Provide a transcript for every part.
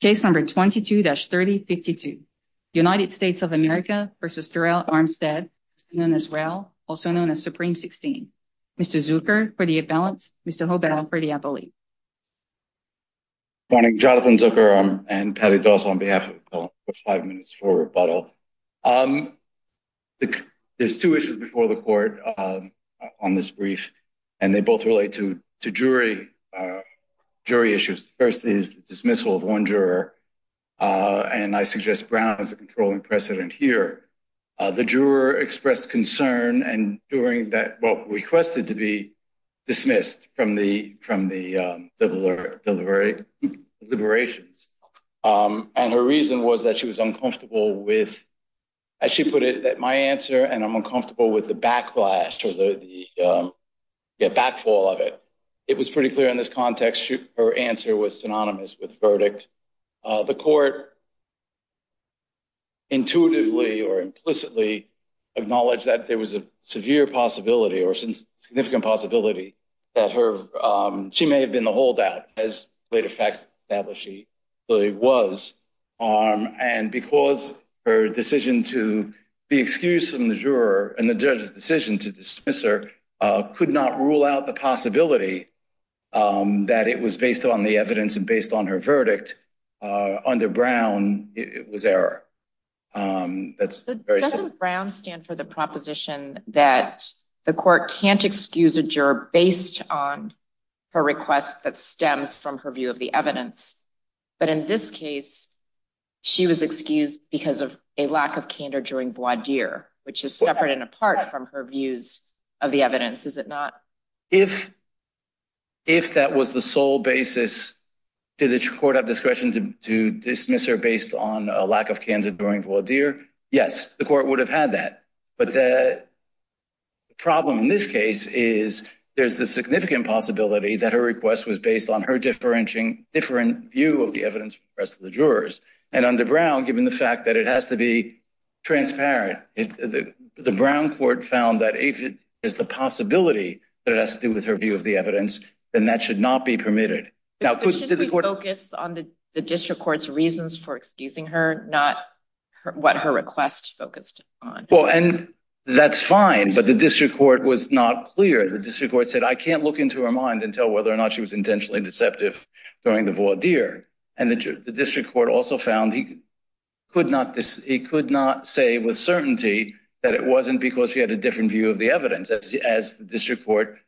Case number 22-3052. United States of America v. Terrell Armstead, also known as Rao, also known as Supreme 16. Mr. Zucker for the imbalance, Mr. Hobel for the appellee. Good morning, Jonathan Zucker and Patti Doss on behalf of the Court. There's two issues before the Court on this brief, and they both relate to jury issues. The first is the dismissal of one juror, and I suggest Brown has a controlling precedent here. The juror expressed concern and during that, well, requested to be dismissed from the deliberations. And her reason was that she was uncomfortable with, as she put it, my answer and I'm uncomfortable with the backlash or the backfall of it. It was pretty clear in this context, her answer was synonymous with verdict. The Court intuitively or implicitly acknowledged that there was a severe possibility or significant possibility that she may have been the holdout. And because her decision to be excused from the juror and the judge's decision to dismiss her could not rule out the possibility that it was based on the evidence and based on her verdict, under Brown, it was error. Doesn't Brown stand for the proposition that the Court can't excuse a juror based on her request that stems from her view of the evidence? But in this case, she was excused because of a lack of candor during voir dire, which is separate and apart from her views of the evidence, is it not? If that was the sole basis, did the Court have discretion to dismiss her based on a lack of candor during voir dire? Yes, the Court would have had that. But the problem in this case is there's the significant possibility that her request was based on her different view of the evidence from the rest of the jurors. And under Brown, given the fact that it has to be transparent, the Brown Court found that if it is the possibility that it has to do with her view of the evidence, then that should not be permitted. But should we focus on the District Court's reasons for excusing her, not what her request focused on? Well, and that's fine, but the District Court was not clear. The District Court said, I can't look into her mind and tell whether or not she was intentionally deceptive during the voir dire. And the District Court also found he could not say with certainty that it wasn't because she had a different view of the evidence. As the District Court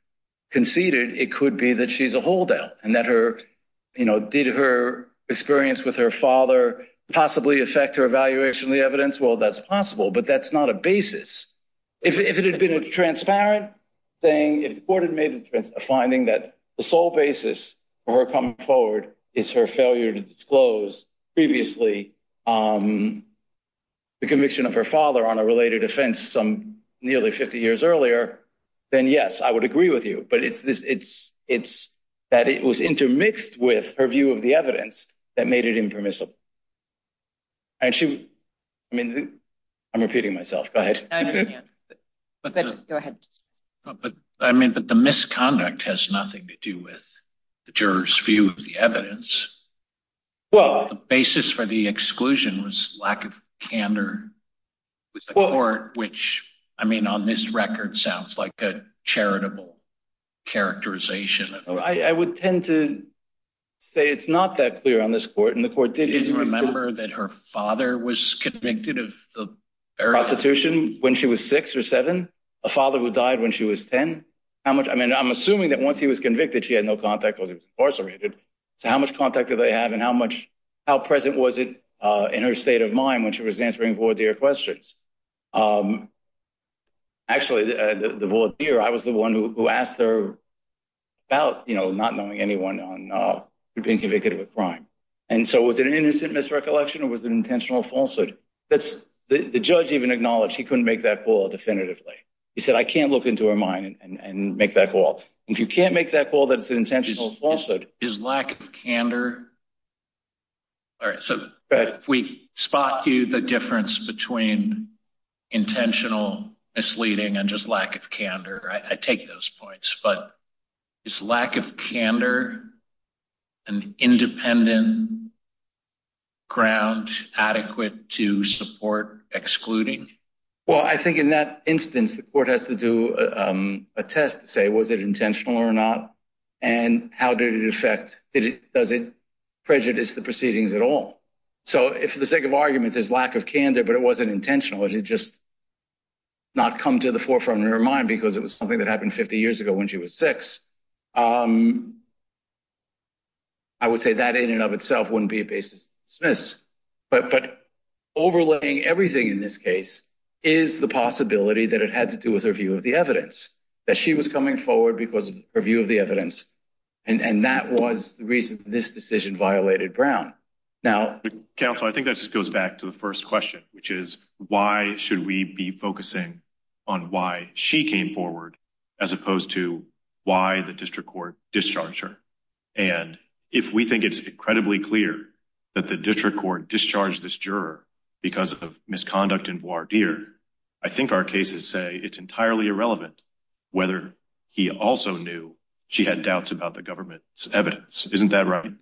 conceded, it could be that she's a holdout and that her, you know, did her experience with her father possibly affect her evaluation of the evidence? Well, that's possible, but that's not a basis. If it had been a transparent thing, if the Court had made a finding that the sole basis for her coming forward is her failure to disclose previously the conviction of her father on a related offense some nearly 50 years earlier, then yes, I would agree with you. But it's that it was intermixed with her view of the evidence that made it impermissible. And she, I mean, I'm repeating myself. Go ahead. Go ahead. But I mean, but the misconduct has nothing to do with the juror's view of the evidence. Well, the basis for the exclusion was lack of candor with the Court, which, I mean, on this record sounds like a charitable characterization. I would tend to say it's not that clear on this court and the court did remember that her father was convicted of prostitution when she was six or seven, a father who died when she was 10. How much I mean, I'm assuming that once he was convicted, she had no contact was incarcerated. So how much contact do they have and how much how present was it in her state of mind when she was answering for their questions? Actually, the vote here, I was the one who asked her about, you know, not knowing anyone on being convicted of a crime. And so it was an innocent misrecollection. It was an intentional falsehood. That's the judge even acknowledged he couldn't make that call definitively. He said, I can't look into her mind and make that call. If you can't make that call, that's an intentional falsehood. Is lack of candor. All right. So if we spot you the difference between intentional misleading and just lack of candor, I take those points. But it's lack of candor and independent. Ground adequate to support excluding. Well, I think in that instance, the court has to do a test to say, was it intentional or not? And how did it affect it? Does it prejudice the proceedings at all? So if the sake of argument is lack of candor, but it wasn't intentional, it just. Not come to the forefront of her mind because it was something that happened 50 years ago when she was six. I would say that in and of itself wouldn't be a basis. But overlaying everything in this case is the possibility that it had to do with her view of the evidence that she was coming forward because of her view of the evidence. And that was the reason this decision violated Brown. Now, I think that just goes back to the first question, which is why should we be focusing on why she came forward as opposed to why the district court discharge her? And if we think it's incredibly clear that the district court discharged this juror because of misconduct and voir dire, I think our cases say it's entirely irrelevant whether he also knew she had doubts about the government's evidence. Isn't that right?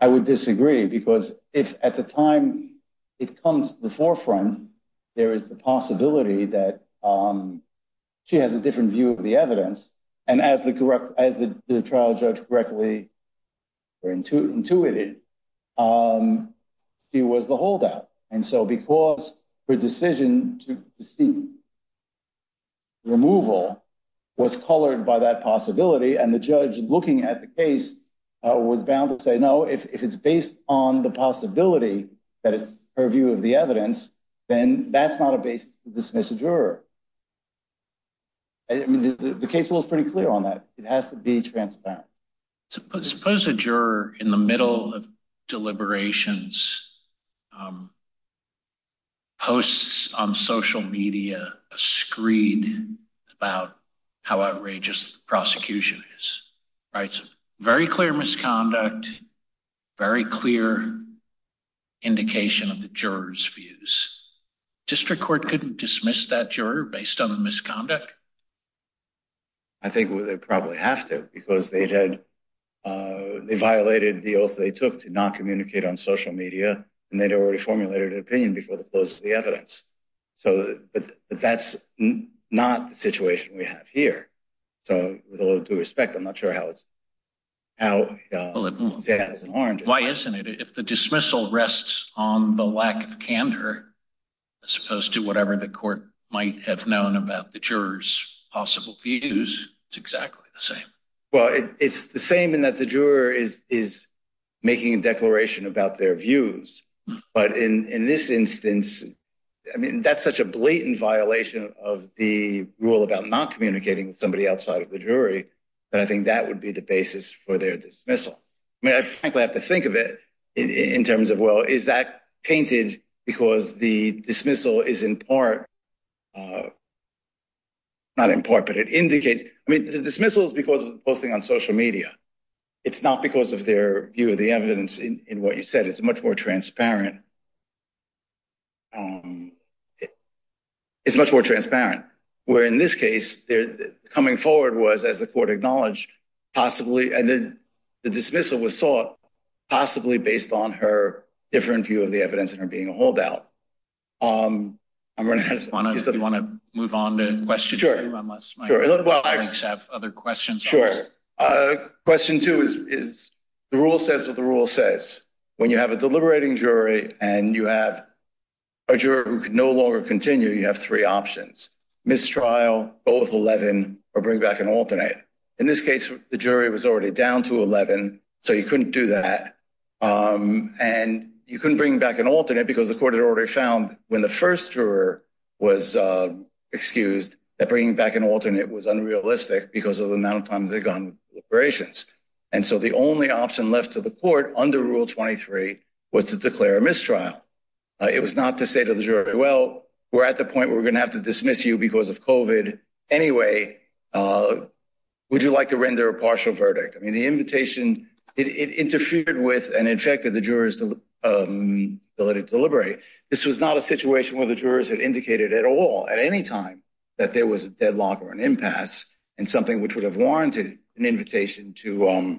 I would disagree because if at the time it comes to the forefront, there is the possibility that she has a different view of the evidence. And as the trial judge correctly intuited, she was the holdout. And so because her decision to seek removal was colored by that possibility and the judge looking at the case was bound to say no, if it's based on the possibility that it's her view of the evidence, then that's not a basis to dismiss a juror. I mean, the case was pretty clear on that. It has to be transparent. Suppose a juror in the middle of deliberations posts on social media a screed about how outrageous the prosecution is. Very clear misconduct, very clear indication of the jurors' views. District court couldn't dismiss that juror based on the misconduct? I think they probably have to because they violated the oath they took to not communicate on social media, and they'd already formulated an opinion before the close of the evidence. But that's not the situation we have here. So with a little due respect, I'm not sure how it's— Why isn't it? If the dismissal rests on the lack of candor, as opposed to whatever the court might have known about the jurors' possible views, it's exactly the same. Well, it's the same in that the juror is making a declaration about their views. But in this instance, I mean, that's such a blatant violation of the rule about not communicating with somebody outside of the jury, that I think that would be the basis for their dismissal. I mean, I frankly have to think of it in terms of, well, is that painted because the dismissal is in part— It's not because of the posting on social media. It's not because of their view of the evidence in what you said. It's much more transparent. It's much more transparent. Where in this case, coming forward was, as the court acknowledged, possibly— And then the dismissal was sought possibly based on her different view of the evidence and her being a holdout. Do you want to move on to questions? Sure. Unless my colleagues have other questions. Sure. Question two is the rule says what the rule says. When you have a deliberating jury and you have a juror who can no longer continue, you have three options. Mistrial, go with 11, or bring back an alternate. In this case, the jury was already down to 11, so you couldn't do that. And you couldn't bring back an alternate because the court had already found, when the first juror was excused, that bringing back an alternate was unrealistic because of the amount of times they'd gone through deliberations. And so the only option left to the court under Rule 23 was to declare a mistrial. It was not to say to the juror, well, we're at the point where we're going to have to dismiss you because of COVID anyway. Would you like to render a partial verdict? I mean, the invitation interfered with and infected the juror's ability to deliberate. This was not a situation where the jurors had indicated at all, at any time, that there was a deadlock or an impasse and something which would have warranted an invitation to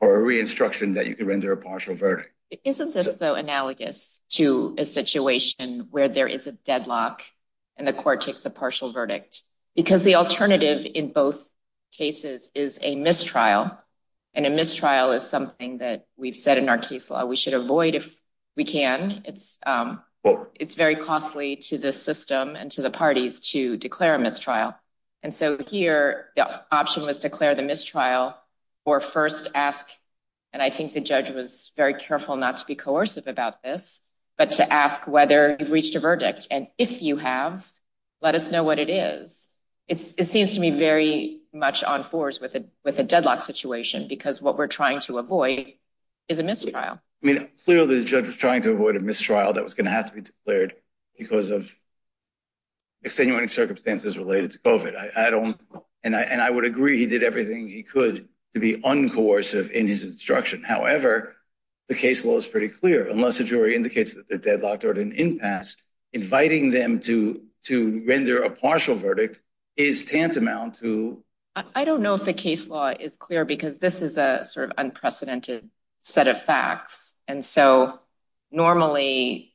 or a re-instruction that you could render a partial verdict. Isn't this, though, analogous to a situation where there is a deadlock and the court takes a partial verdict? Because the alternative in both cases is a mistrial. And a mistrial is something that we've said in our case law we should avoid if we can. It's very costly to the system and to the parties to declare a mistrial. And so here, the option was to declare the mistrial or first ask. And I think the judge was very careful not to be coercive about this, but to ask whether you've reached a verdict. And if you have, let us know what it is. It seems to me very much on force with a deadlock situation because what we're trying to avoid is a mistrial. Clearly, the judge was trying to avoid a mistrial that was going to have to be declared because of extenuating circumstances related to COVID. And I would agree he did everything he could to be uncoercive in his instruction. However, the case law is pretty clear. Unless the jury indicates that they're deadlocked or at an impasse, inviting them to to render a partial verdict is tantamount to. I don't know if the case law is clear because this is a sort of unprecedented set of facts. And so normally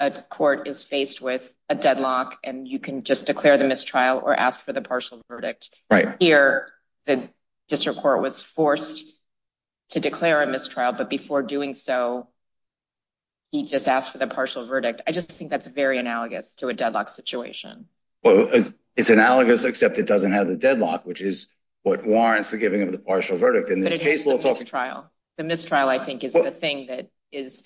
a court is faced with a deadlock and you can just declare the mistrial or ask for the partial verdict. Here, the district court was forced to declare a mistrial. But before doing so. He just asked for the partial verdict. I just think that's very analogous to a deadlock situation. Well, it's analogous, except it doesn't have the deadlock, which is what warrants the giving of the partial verdict in this case trial. The mistrial, I think, is the thing that is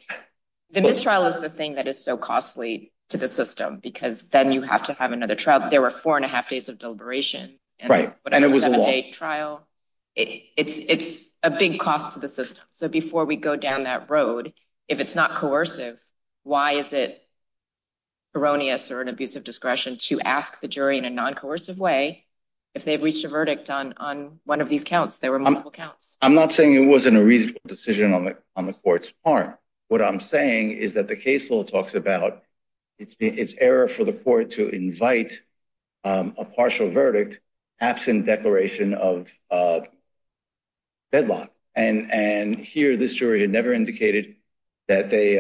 the mistrial is the thing that is so costly to the system because then you have to have another trial. There were four and a half days of deliberation. Right. And it was a trial. It's it's a big cost to the system. So before we go down that road, if it's not coercive, why is it erroneous or an abusive discretion to ask the jury in a non-coercive way? If they've reached a verdict on on one of these counts, there were multiple counts. I'm not saying it wasn't a reasonable decision on the on the court's part. What I'm saying is that the case law talks about it's been it's error for the court to invite a partial verdict absent declaration of. And and here this jury had never indicated that they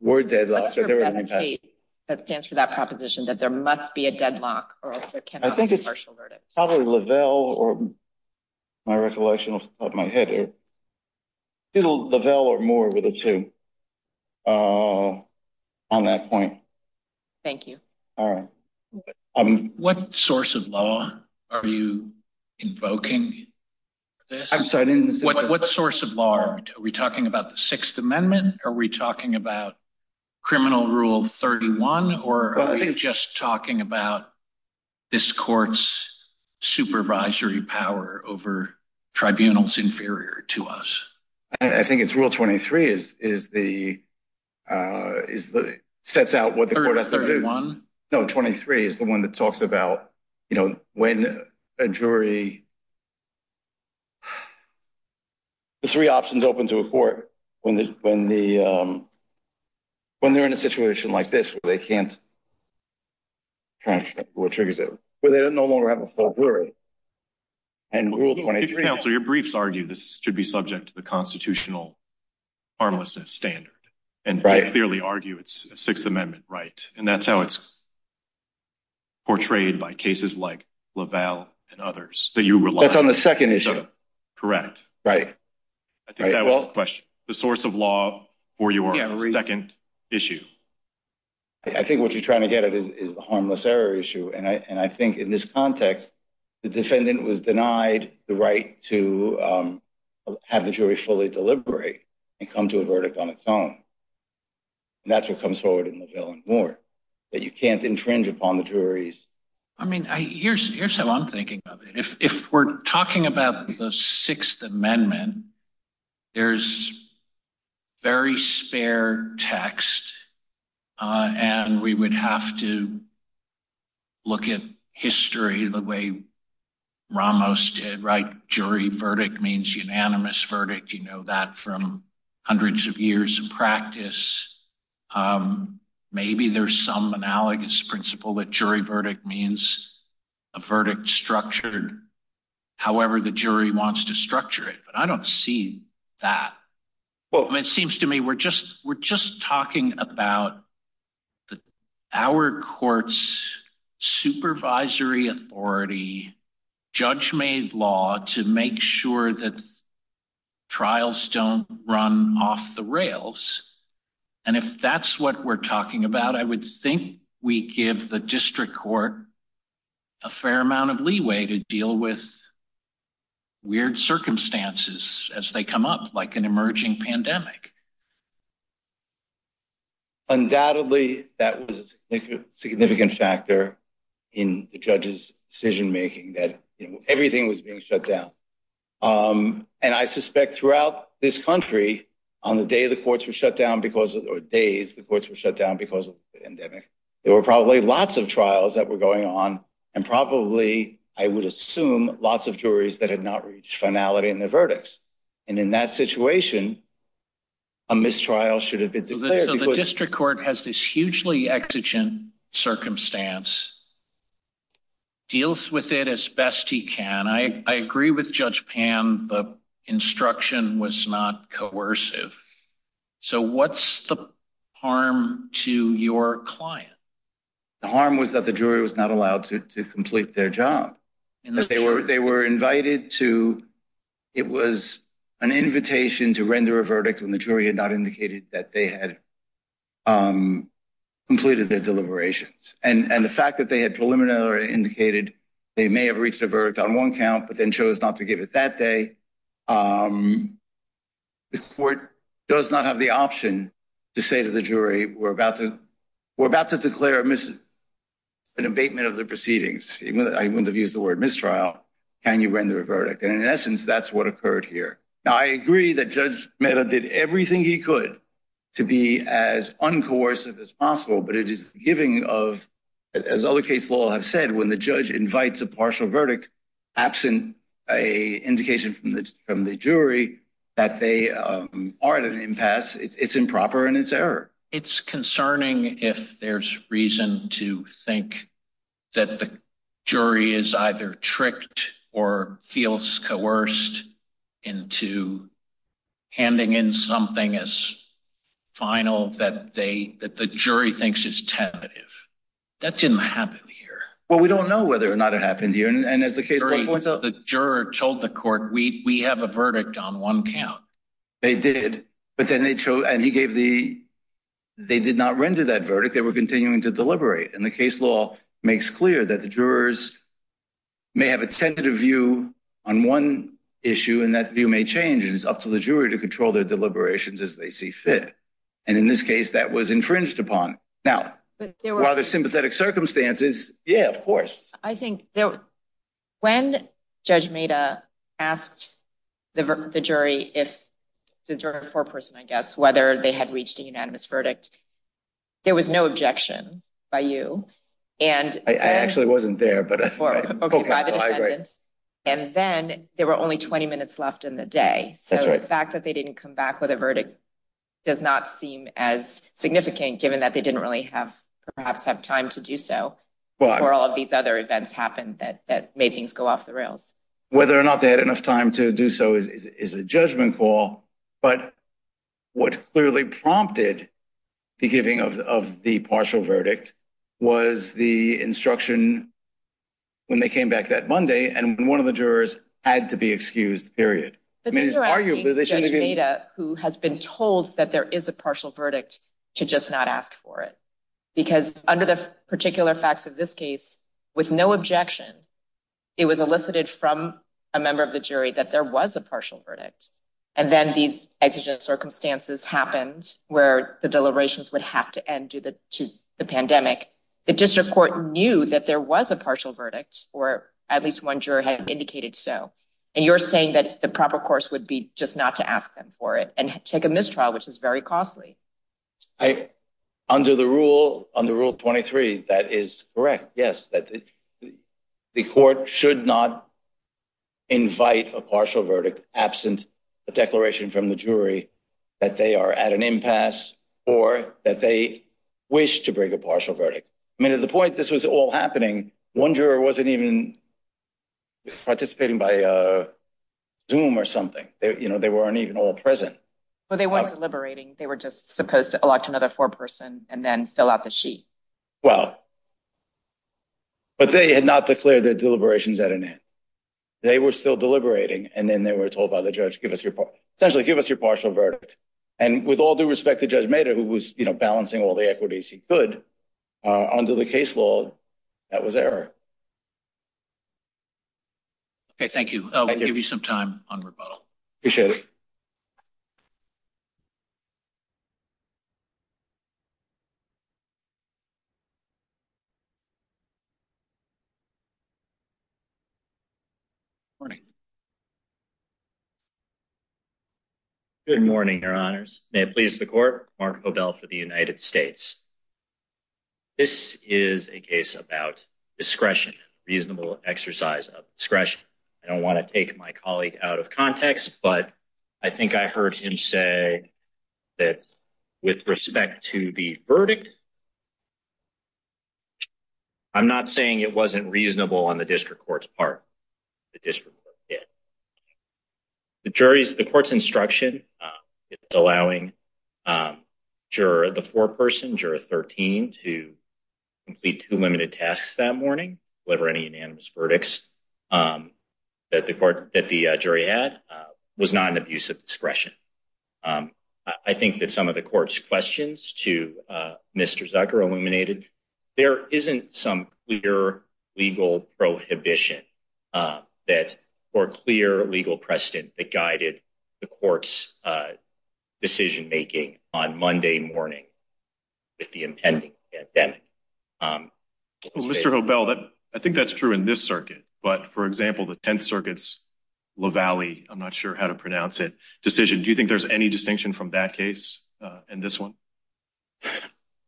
were dead. That stands for that proposition that there must be a deadlock. I think it's probably Lavelle or my recollection of my head. Lavelle or more with a two on that point. Thank you. All right. I mean, what source of law are you invoking? I'm sorry. What source of law are we talking about? The Sixth Amendment? Are we talking about criminal rule 31 or just talking about this court's supervisory power over tribunals inferior to us? I think it's rule 23 is is the is the sets out what the court has to do. No, 23 is the one that talks about, you know, when a jury. The three options open to a court when the when the when they're in a situation like this, they can't. What triggers it? Well, they don't no longer have a full jury. And rule 23, your briefs argue this should be subject to the constitutional armless standard. And I clearly argue it's a Sixth Amendment. Right. And that's how it's. Portrayed by cases like Lavelle and others that you rely on the second issue. Correct. Right. Well, the source of law for your second issue. I think what you're trying to get at is the harmless error issue. And I think in this context, the defendant was denied the right to have the jury fully deliberate and come to a verdict on its own. And that's what comes forward in the villain more that you can't infringe upon the juries. I mean, here's here's how I'm thinking of it. If we're talking about the Sixth Amendment, there's very spare text. And we would have to look at history the way Ramos did right. Jury verdict means unanimous verdict. You know that from hundreds of years of practice. Maybe there's some analogous principle that jury verdict means a verdict structured. However, the jury wants to structure it. But I don't see that. Well, it seems to me we're just we're just talking about the our courts supervisory authority. Judge made law to make sure that trials don't run off the rails. And if that's what we're talking about, I would think we give the district court a fair amount of leeway to deal with. Weird circumstances as they come up like an emerging pandemic. Undoubtedly, that was a significant factor in the judge's decision making that everything was being shut down. And I suspect throughout this country on the day the courts were shut down because of days, the courts were shut down because of the endemic. There were probably lots of trials that were going on and probably I would assume lots of juries that had not reached finality in the verdicts. And in that situation. A mistrial should have been declared. So the district court has this hugely exigent circumstance. Deals with it as best he can. I agree with Judge Pan. The instruction was not coercive. So what's the harm to your client? The harm was that the jury was not allowed to complete their job and that they were they were invited to. It was an invitation to render a verdict when the jury had not indicated that they had completed their deliberations. And the fact that they had preliminary indicated they may have reached a verdict on one count, but then chose not to give it that day. The court does not have the option to say to the jury, we're about to we're about to declare a miss an abatement of the proceedings. I wouldn't have used the word mistrial. Can you render a verdict? And in essence, that's what occurred here. Now, I agree that Judge Mehta did everything he could to be as uncoercive as possible. But it is giving of, as other case law have said, when the judge invites a partial verdict, absent a indication from the jury that they are at an impasse, it's improper and it's error. It's concerning if there's reason to think that the jury is either tricked or feels coerced into handing in something as final that they that the jury thinks is tentative. That didn't happen here. Well, we don't know whether or not it happened here. And as the jury told the court, we have a verdict on one count. They did, but then they chose and he gave the they did not render that verdict. They were continuing to deliberate. And the case law makes clear that the jurors may have a tentative view on one issue. And that view may change is up to the jury to control their deliberations as they see fit. And in this case, that was infringed upon. Now, there were other sympathetic circumstances. Yeah, of course. I think when Judge Mehta asked the jury if the jury or foreperson, I guess, whether they had reached a unanimous verdict, there was no objection by you. And I actually wasn't there, but I agree. And then there were only 20 minutes left in the day. So the fact that they didn't come back with a verdict does not seem as significant, given that they didn't really have perhaps have time to do so. Well, all of these other events happened that that made things go off the rails. Whether or not they had enough time to do so is a judgment call. But what clearly prompted the giving of the partial verdict was the instruction when they came back that Monday and one of the jurors had to be excused. Who has been told that there is a partial verdict to just not ask for it? Because under the particular facts of this case, with no objection, it was elicited from a member of the jury that there was a partial verdict. And then these extra circumstances happened where the deliberations would have to end due to the pandemic. The district court knew that there was a partial verdict or at least one juror had indicated. So and you're saying that the proper course would be just not to ask them for it and take a mistrial, which is very costly. Under the rule, under Rule 23, that is correct. Yes, that the court should not. Invite a partial verdict absent a declaration from the jury that they are at an impasse or that they wish to break a partial verdict. I mean, at the point this was all happening, one juror wasn't even participating by Zoom or something. You know, they weren't even all present. Well, they weren't deliberating. They were just supposed to elect another four person and then fill out the sheet. Well. But they had not declared their deliberations at an end. They were still deliberating and then they were told by the judge, give us your essentially give us your partial verdict. And with all due respect, the judge made it, who was balancing all the equities he could under the case law. That was error. Thank you. Give you some time on rebuttal. Good morning. Good morning, your honors. May it please the court. Mark O'Dell for the United States. This is a case about discretion, reasonable exercise of discretion. I don't want to take my colleague out of context, but I think I heard him say that with respect to the verdict. I'm not saying it wasn't reasonable on the district court's part. The district did the jury's the court's instruction, allowing the four person juror 13 to complete two limited tasks that morning. Whoever any unanimous verdicts that the court that the jury had was not an abuse of discretion. I think that some of the court's questions to Mr. Zucker eliminated. There isn't some clear legal prohibition that or clear legal precedent that guided the court's decision making on Monday morning. If the impending that Mr. O'Dell, I think that's true in this circuit. But for example, the 10th Circuit's low valley. I'm not sure how to pronounce it. Decision. Do you think there's any distinction from that case? And this one?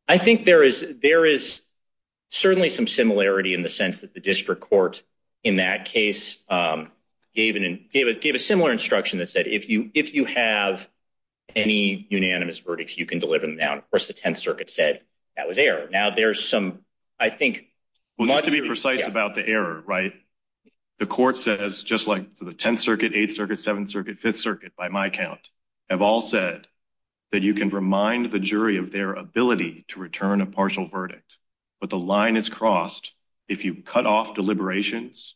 I think there is. There is certainly some similarity in the sense that the district court in that case even gave it gave a similar instruction that said, if you if you have any unanimous verdicts, you can deliver them. Of course, the 10th Circuit said that was there. Now there's some, I think, we want to be precise about the error. Right. The court says just like the 10th Circuit, 8th Circuit, 7th Circuit, 5th Circuit, by my count, have all said that you can remind the jury of their ability to return a partial verdict. But the line is crossed if you cut off deliberations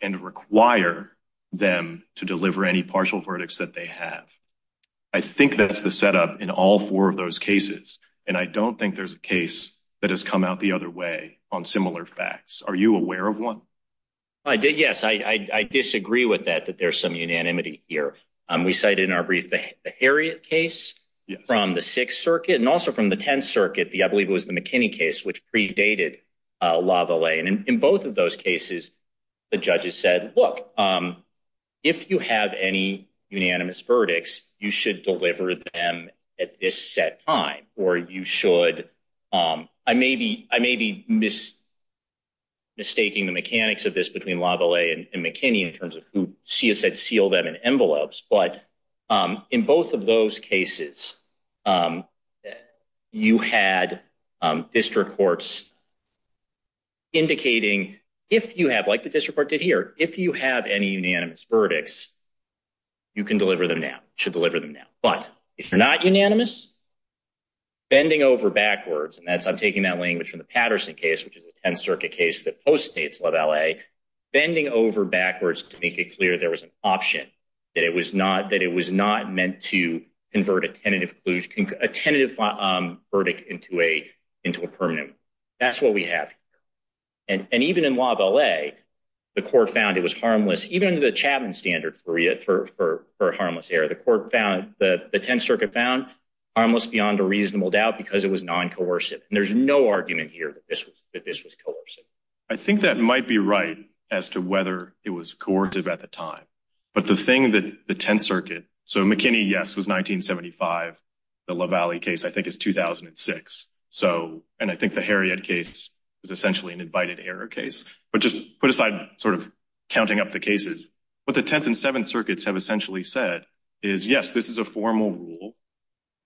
and require them to deliver any partial verdicts that they have. I think that's the setup in all four of those cases. And I don't think there's a case that has come out the other way on similar facts. Are you aware of one? I did. Yes, I disagree with that, that there's some unanimity here. We cited in our brief the Harriet case from the 6th Circuit and also from the 10th Circuit. The I believe it was the McKinney case, which predated Lavallee. And in both of those cases, the judges said, look, if you have any unanimous verdicts, you should deliver them at this set time. Or you should. I may be I may be. Mistaking the mechanics of this between Lavallee and McKinney in terms of who she has said seal them in envelopes. But in both of those cases, you had district courts. Indicating if you have like the district court did here, if you have any unanimous verdicts. You can deliver them now, should deliver them now. But if you're not unanimous. Bending over backwards, and that's I'm taking that language from the Patterson case, which is the 10th Circuit case that postdates Lavallee. Bending over backwards to make it clear there was an option that it was not that it was not meant to convert a tentative, a tentative verdict into a into a permanent. That's what we have. And even in Lavallee, the court found it was harmless. Even the Chapman standard for it for for harmless error, the court found that the 10th Circuit found almost beyond a reasonable doubt because it was non coercive. And there's no argument here that this was that this was coercive. I think that might be right as to whether it was coercive at the time. But the thing that the 10th Circuit. So McKinney, yes, was 1975. The Lavallee case, I think, is 2006. So and I think the Harriet case is essentially an invited error case. But just put aside sort of counting up the cases with the 10th and 7th Circuits have essentially said is, yes, this is a formal rule.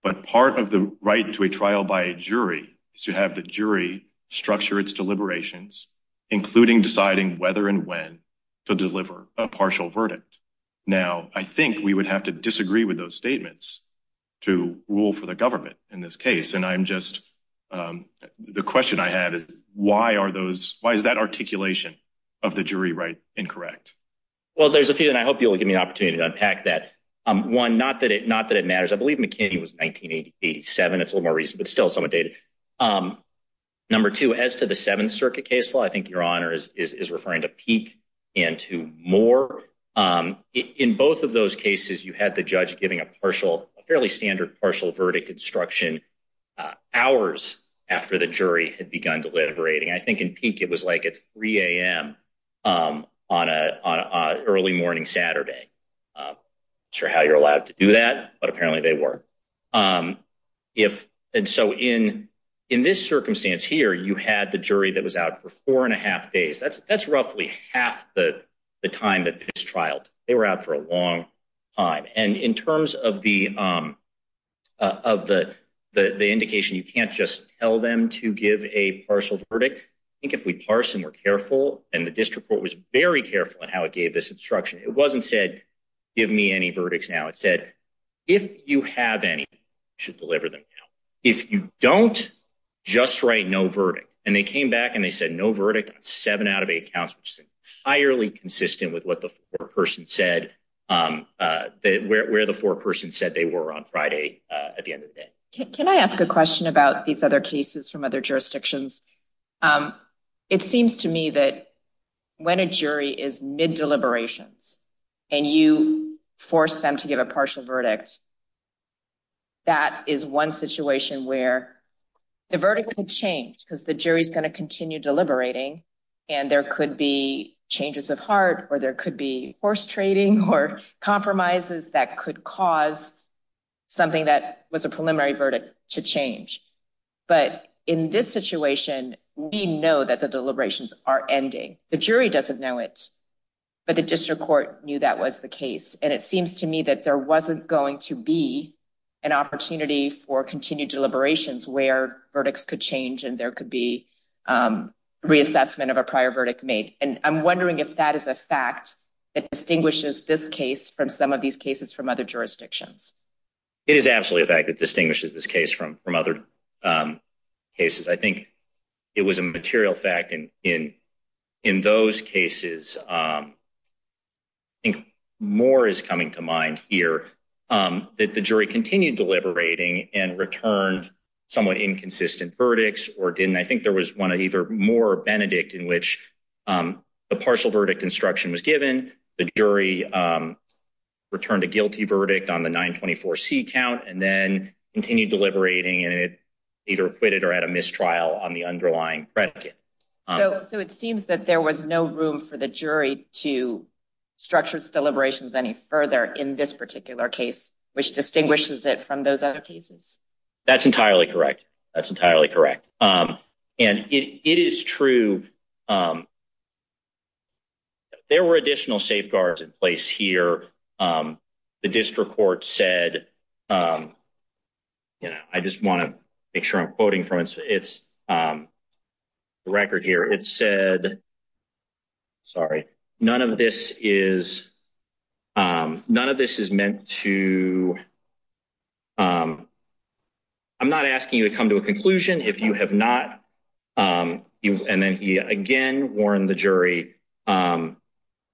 But part of the right to a trial by a jury is to have the jury structure its deliberations, including deciding whether and when to deliver a partial verdict. Now, I think we would have to disagree with those statements to rule for the government in this case. And I'm just the question I had is, why are those why is that articulation of the jury right? Incorrect? Well, there's a few and I hope you'll give me an opportunity to unpack that one. Not that it not that it matters. I believe McKinney was 1987. It's a little more recent, but still some of data. Number two, as to the 7th Circuit case law, I think your honor is referring to peak into more. In both of those cases, you had the judge giving a partial fairly standard partial verdict instruction hours after the jury had begun deliberating. I think in peak, it was like at 3 a.m. on a early morning Saturday. Sure how you're allowed to do that. But apparently they were if. And so in in this circumstance here, you had the jury that was out for four and a half days. That's that's roughly half the time that this trial they were out for a long time. And in terms of the of the the indication, you can't just tell them to give a partial verdict. I think if we parse and we're careful and the district court was very careful in how it gave this instruction. It wasn't said, give me any verdicts now. It said, if you have any should deliver them. If you don't just write no verdict and they came back and they said no verdict, seven out of eight counts, which is highly consistent with what the person said, where the four person said they were on Friday. Can I ask a question about these other cases from other jurisdictions? It seems to me that when a jury is mid deliberations and you force them to give a partial verdict. That is one situation where the verdict could change because the jury is going to continue deliberating. And there could be changes of heart or there could be forced trading or compromises that could cause something that was a preliminary verdict to change. But in this situation, we know that the deliberations are ending. The jury doesn't know it, but the district court knew that was the case. And it seems to me that there wasn't going to be an opportunity for continued deliberations where verdicts could change. And there could be reassessment of a prior verdict made. And I'm wondering if that is a fact that distinguishes this case from some of these cases from other jurisdictions. It is absolutely a fact that distinguishes this case from from other cases. I think it was a material fact in in in those cases. I think more is coming to mind here that the jury continued deliberating and returned somewhat inconsistent verdicts or didn't. I think there was one either more Benedict in which the partial verdict instruction was given. The jury returned a guilty verdict on the 924 C count and then continued deliberating. And it either acquitted or had a mistrial on the underlying predicate. So it seems that there was no room for the jury to structure its deliberations any further in this particular case, which distinguishes it from those other cases. That's entirely correct. That's entirely correct. And it is true. There were additional safeguards in place here. The district court said, you know, I just want to make sure I'm quoting from its record here. It said. Sorry, none of this is none of this is meant to. I'm not asking you to come to a conclusion if you have not. And then he again warned the jury, none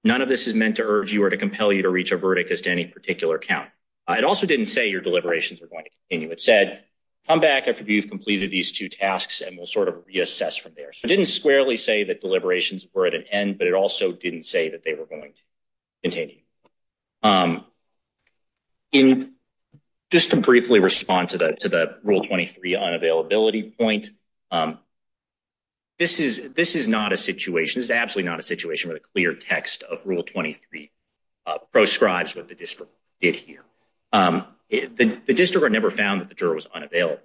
of this is meant to urge you or to compel you to reach a verdict as to any particular count. It also didn't say your deliberations are going to continue. It said, come back after you've completed these two tasks and we'll sort of reassess from there. So I didn't squarely say that deliberations were at an end, but it also didn't say that they were going to continue. In just to briefly respond to that, to the rule 23 unavailability point. This is this is not a situation is absolutely not a situation with a clear text of rule 23 proscribes what the district did here. The district never found that the juror was unavailable.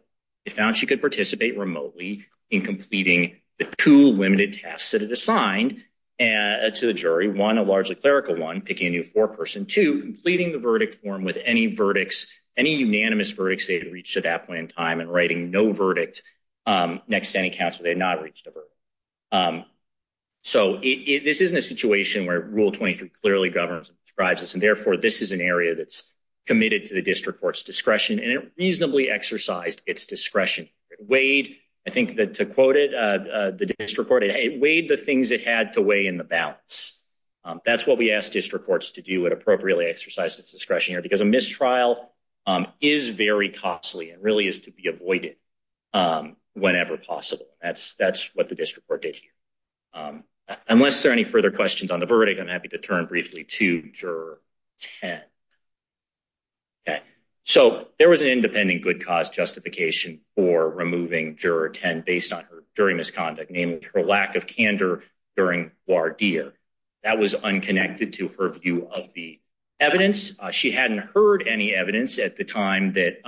It found she could participate remotely in completing the two limited tasks that it assigned to the jury. One, a largely clerical one, picking a new foreperson to completing the verdict form with any verdicts, any unanimous verdicts. They had reached at that point in time and writing no verdict. Next, any counselor, they had not reached a verdict. So this isn't a situation where rule 23 clearly governs, describes this. Therefore, this is an area that's committed to the district court's discretion and reasonably exercised its discretion. Wade, I think that to quote it, the district court, it weighed the things it had to weigh in the balance. That's what we asked district courts to do. It appropriately exercised its discretion here because a mistrial is very costly and really is to be avoided whenever possible. That's that's what the district court did here. Unless there are any further questions on the verdict, I'm happy to turn briefly to juror 10. OK, so there was an independent good cause justification for removing juror 10 based on her jury misconduct, namely her lack of candor during voir dire. That was unconnected to her view of the evidence. She hadn't heard any evidence at the time that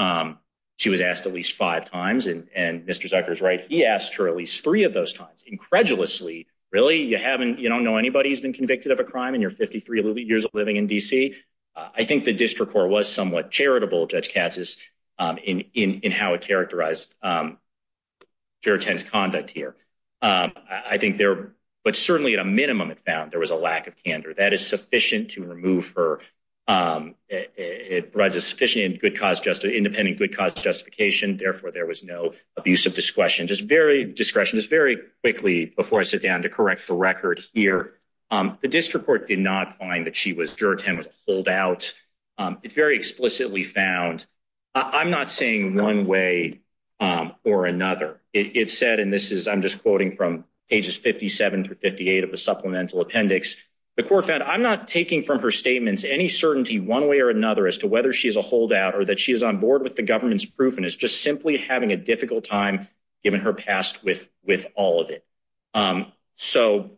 she was asked at least five times. And Mr. Zucker is right. He asked her at least three of those times. Incredulously. Really, you haven't you don't know anybody who's been convicted of a crime in your 53 years of living in D.C. I think the district court was somewhat charitable. Judge Katz is in in how it characterized. Juror 10's conduct here, I think there, but certainly at a minimum, it found there was a lack of candor that is sufficient to remove her. It provides a sufficient good cause, just an independent good cause justification. Therefore, there was no abuse of discretion. Just very discretion is very quickly before I sit down to correct the record here. The district court did not find that she was juror 10 was pulled out. It very explicitly found. I'm not saying one way or another. It said and this is I'm just quoting from pages 57 through 58 of the supplemental appendix. The court found I'm not taking from her statements any certainty one way or another as to whether she is a holdout or that she is on board with the government's proof. And it's just simply having a difficult time, given her past with with all of it. So,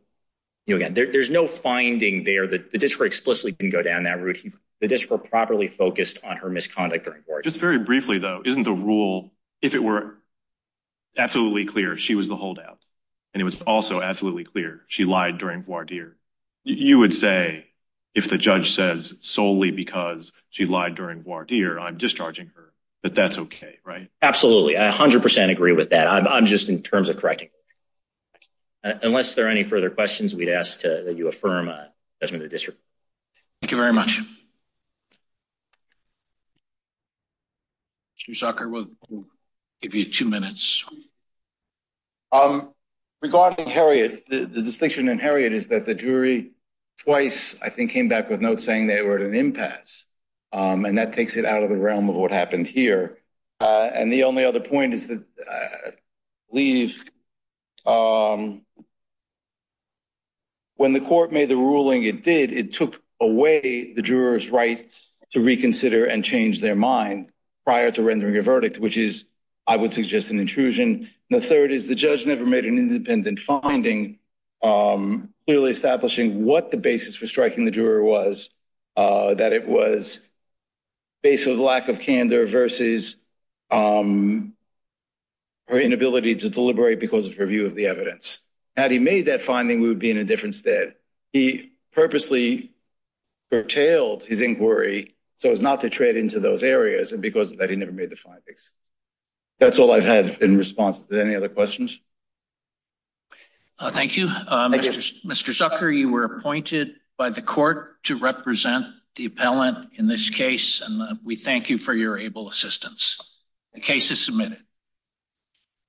you know, there's no finding there that the district explicitly can go down that route. The district properly focused on her misconduct or just very briefly, though, isn't the rule. If it were absolutely clear she was the holdout and it was also absolutely clear she lied during voir dire. You would say if the judge says solely because she lied during voir dire, I'm discharging her. But that's OK. Right. Absolutely. I 100 percent agree with that. I'm just in terms of correcting. Unless there are any further questions, we'd ask that you affirm the district. Thank you very much. Soccer will give you two minutes. Regarding Harriet, the distinction in Harriet is that the jury twice, I think, came back with notes saying they were at an impasse and that takes it out of the realm of what happened here. And the only other point is that leaves. When the court made the ruling, it did. It took away the juror's right to reconsider and change their mind prior to rendering a verdict, which is, I would suggest, an intrusion. The third is the judge never made an independent finding really establishing what the basis for striking the juror was, that it was based on the lack of candor versus her inability to deliberate because of her view of the evidence. Had he made that finding, we would be in a different state. He purposely curtailed his inquiry so as not to trade into those areas. And because of that, he never made the findings. That's all I've had in response to any other questions. Thank you, Mr. Zucker. You were appointed by the court to represent the appellant in this case. And we thank you for your able assistance. The case is submitted.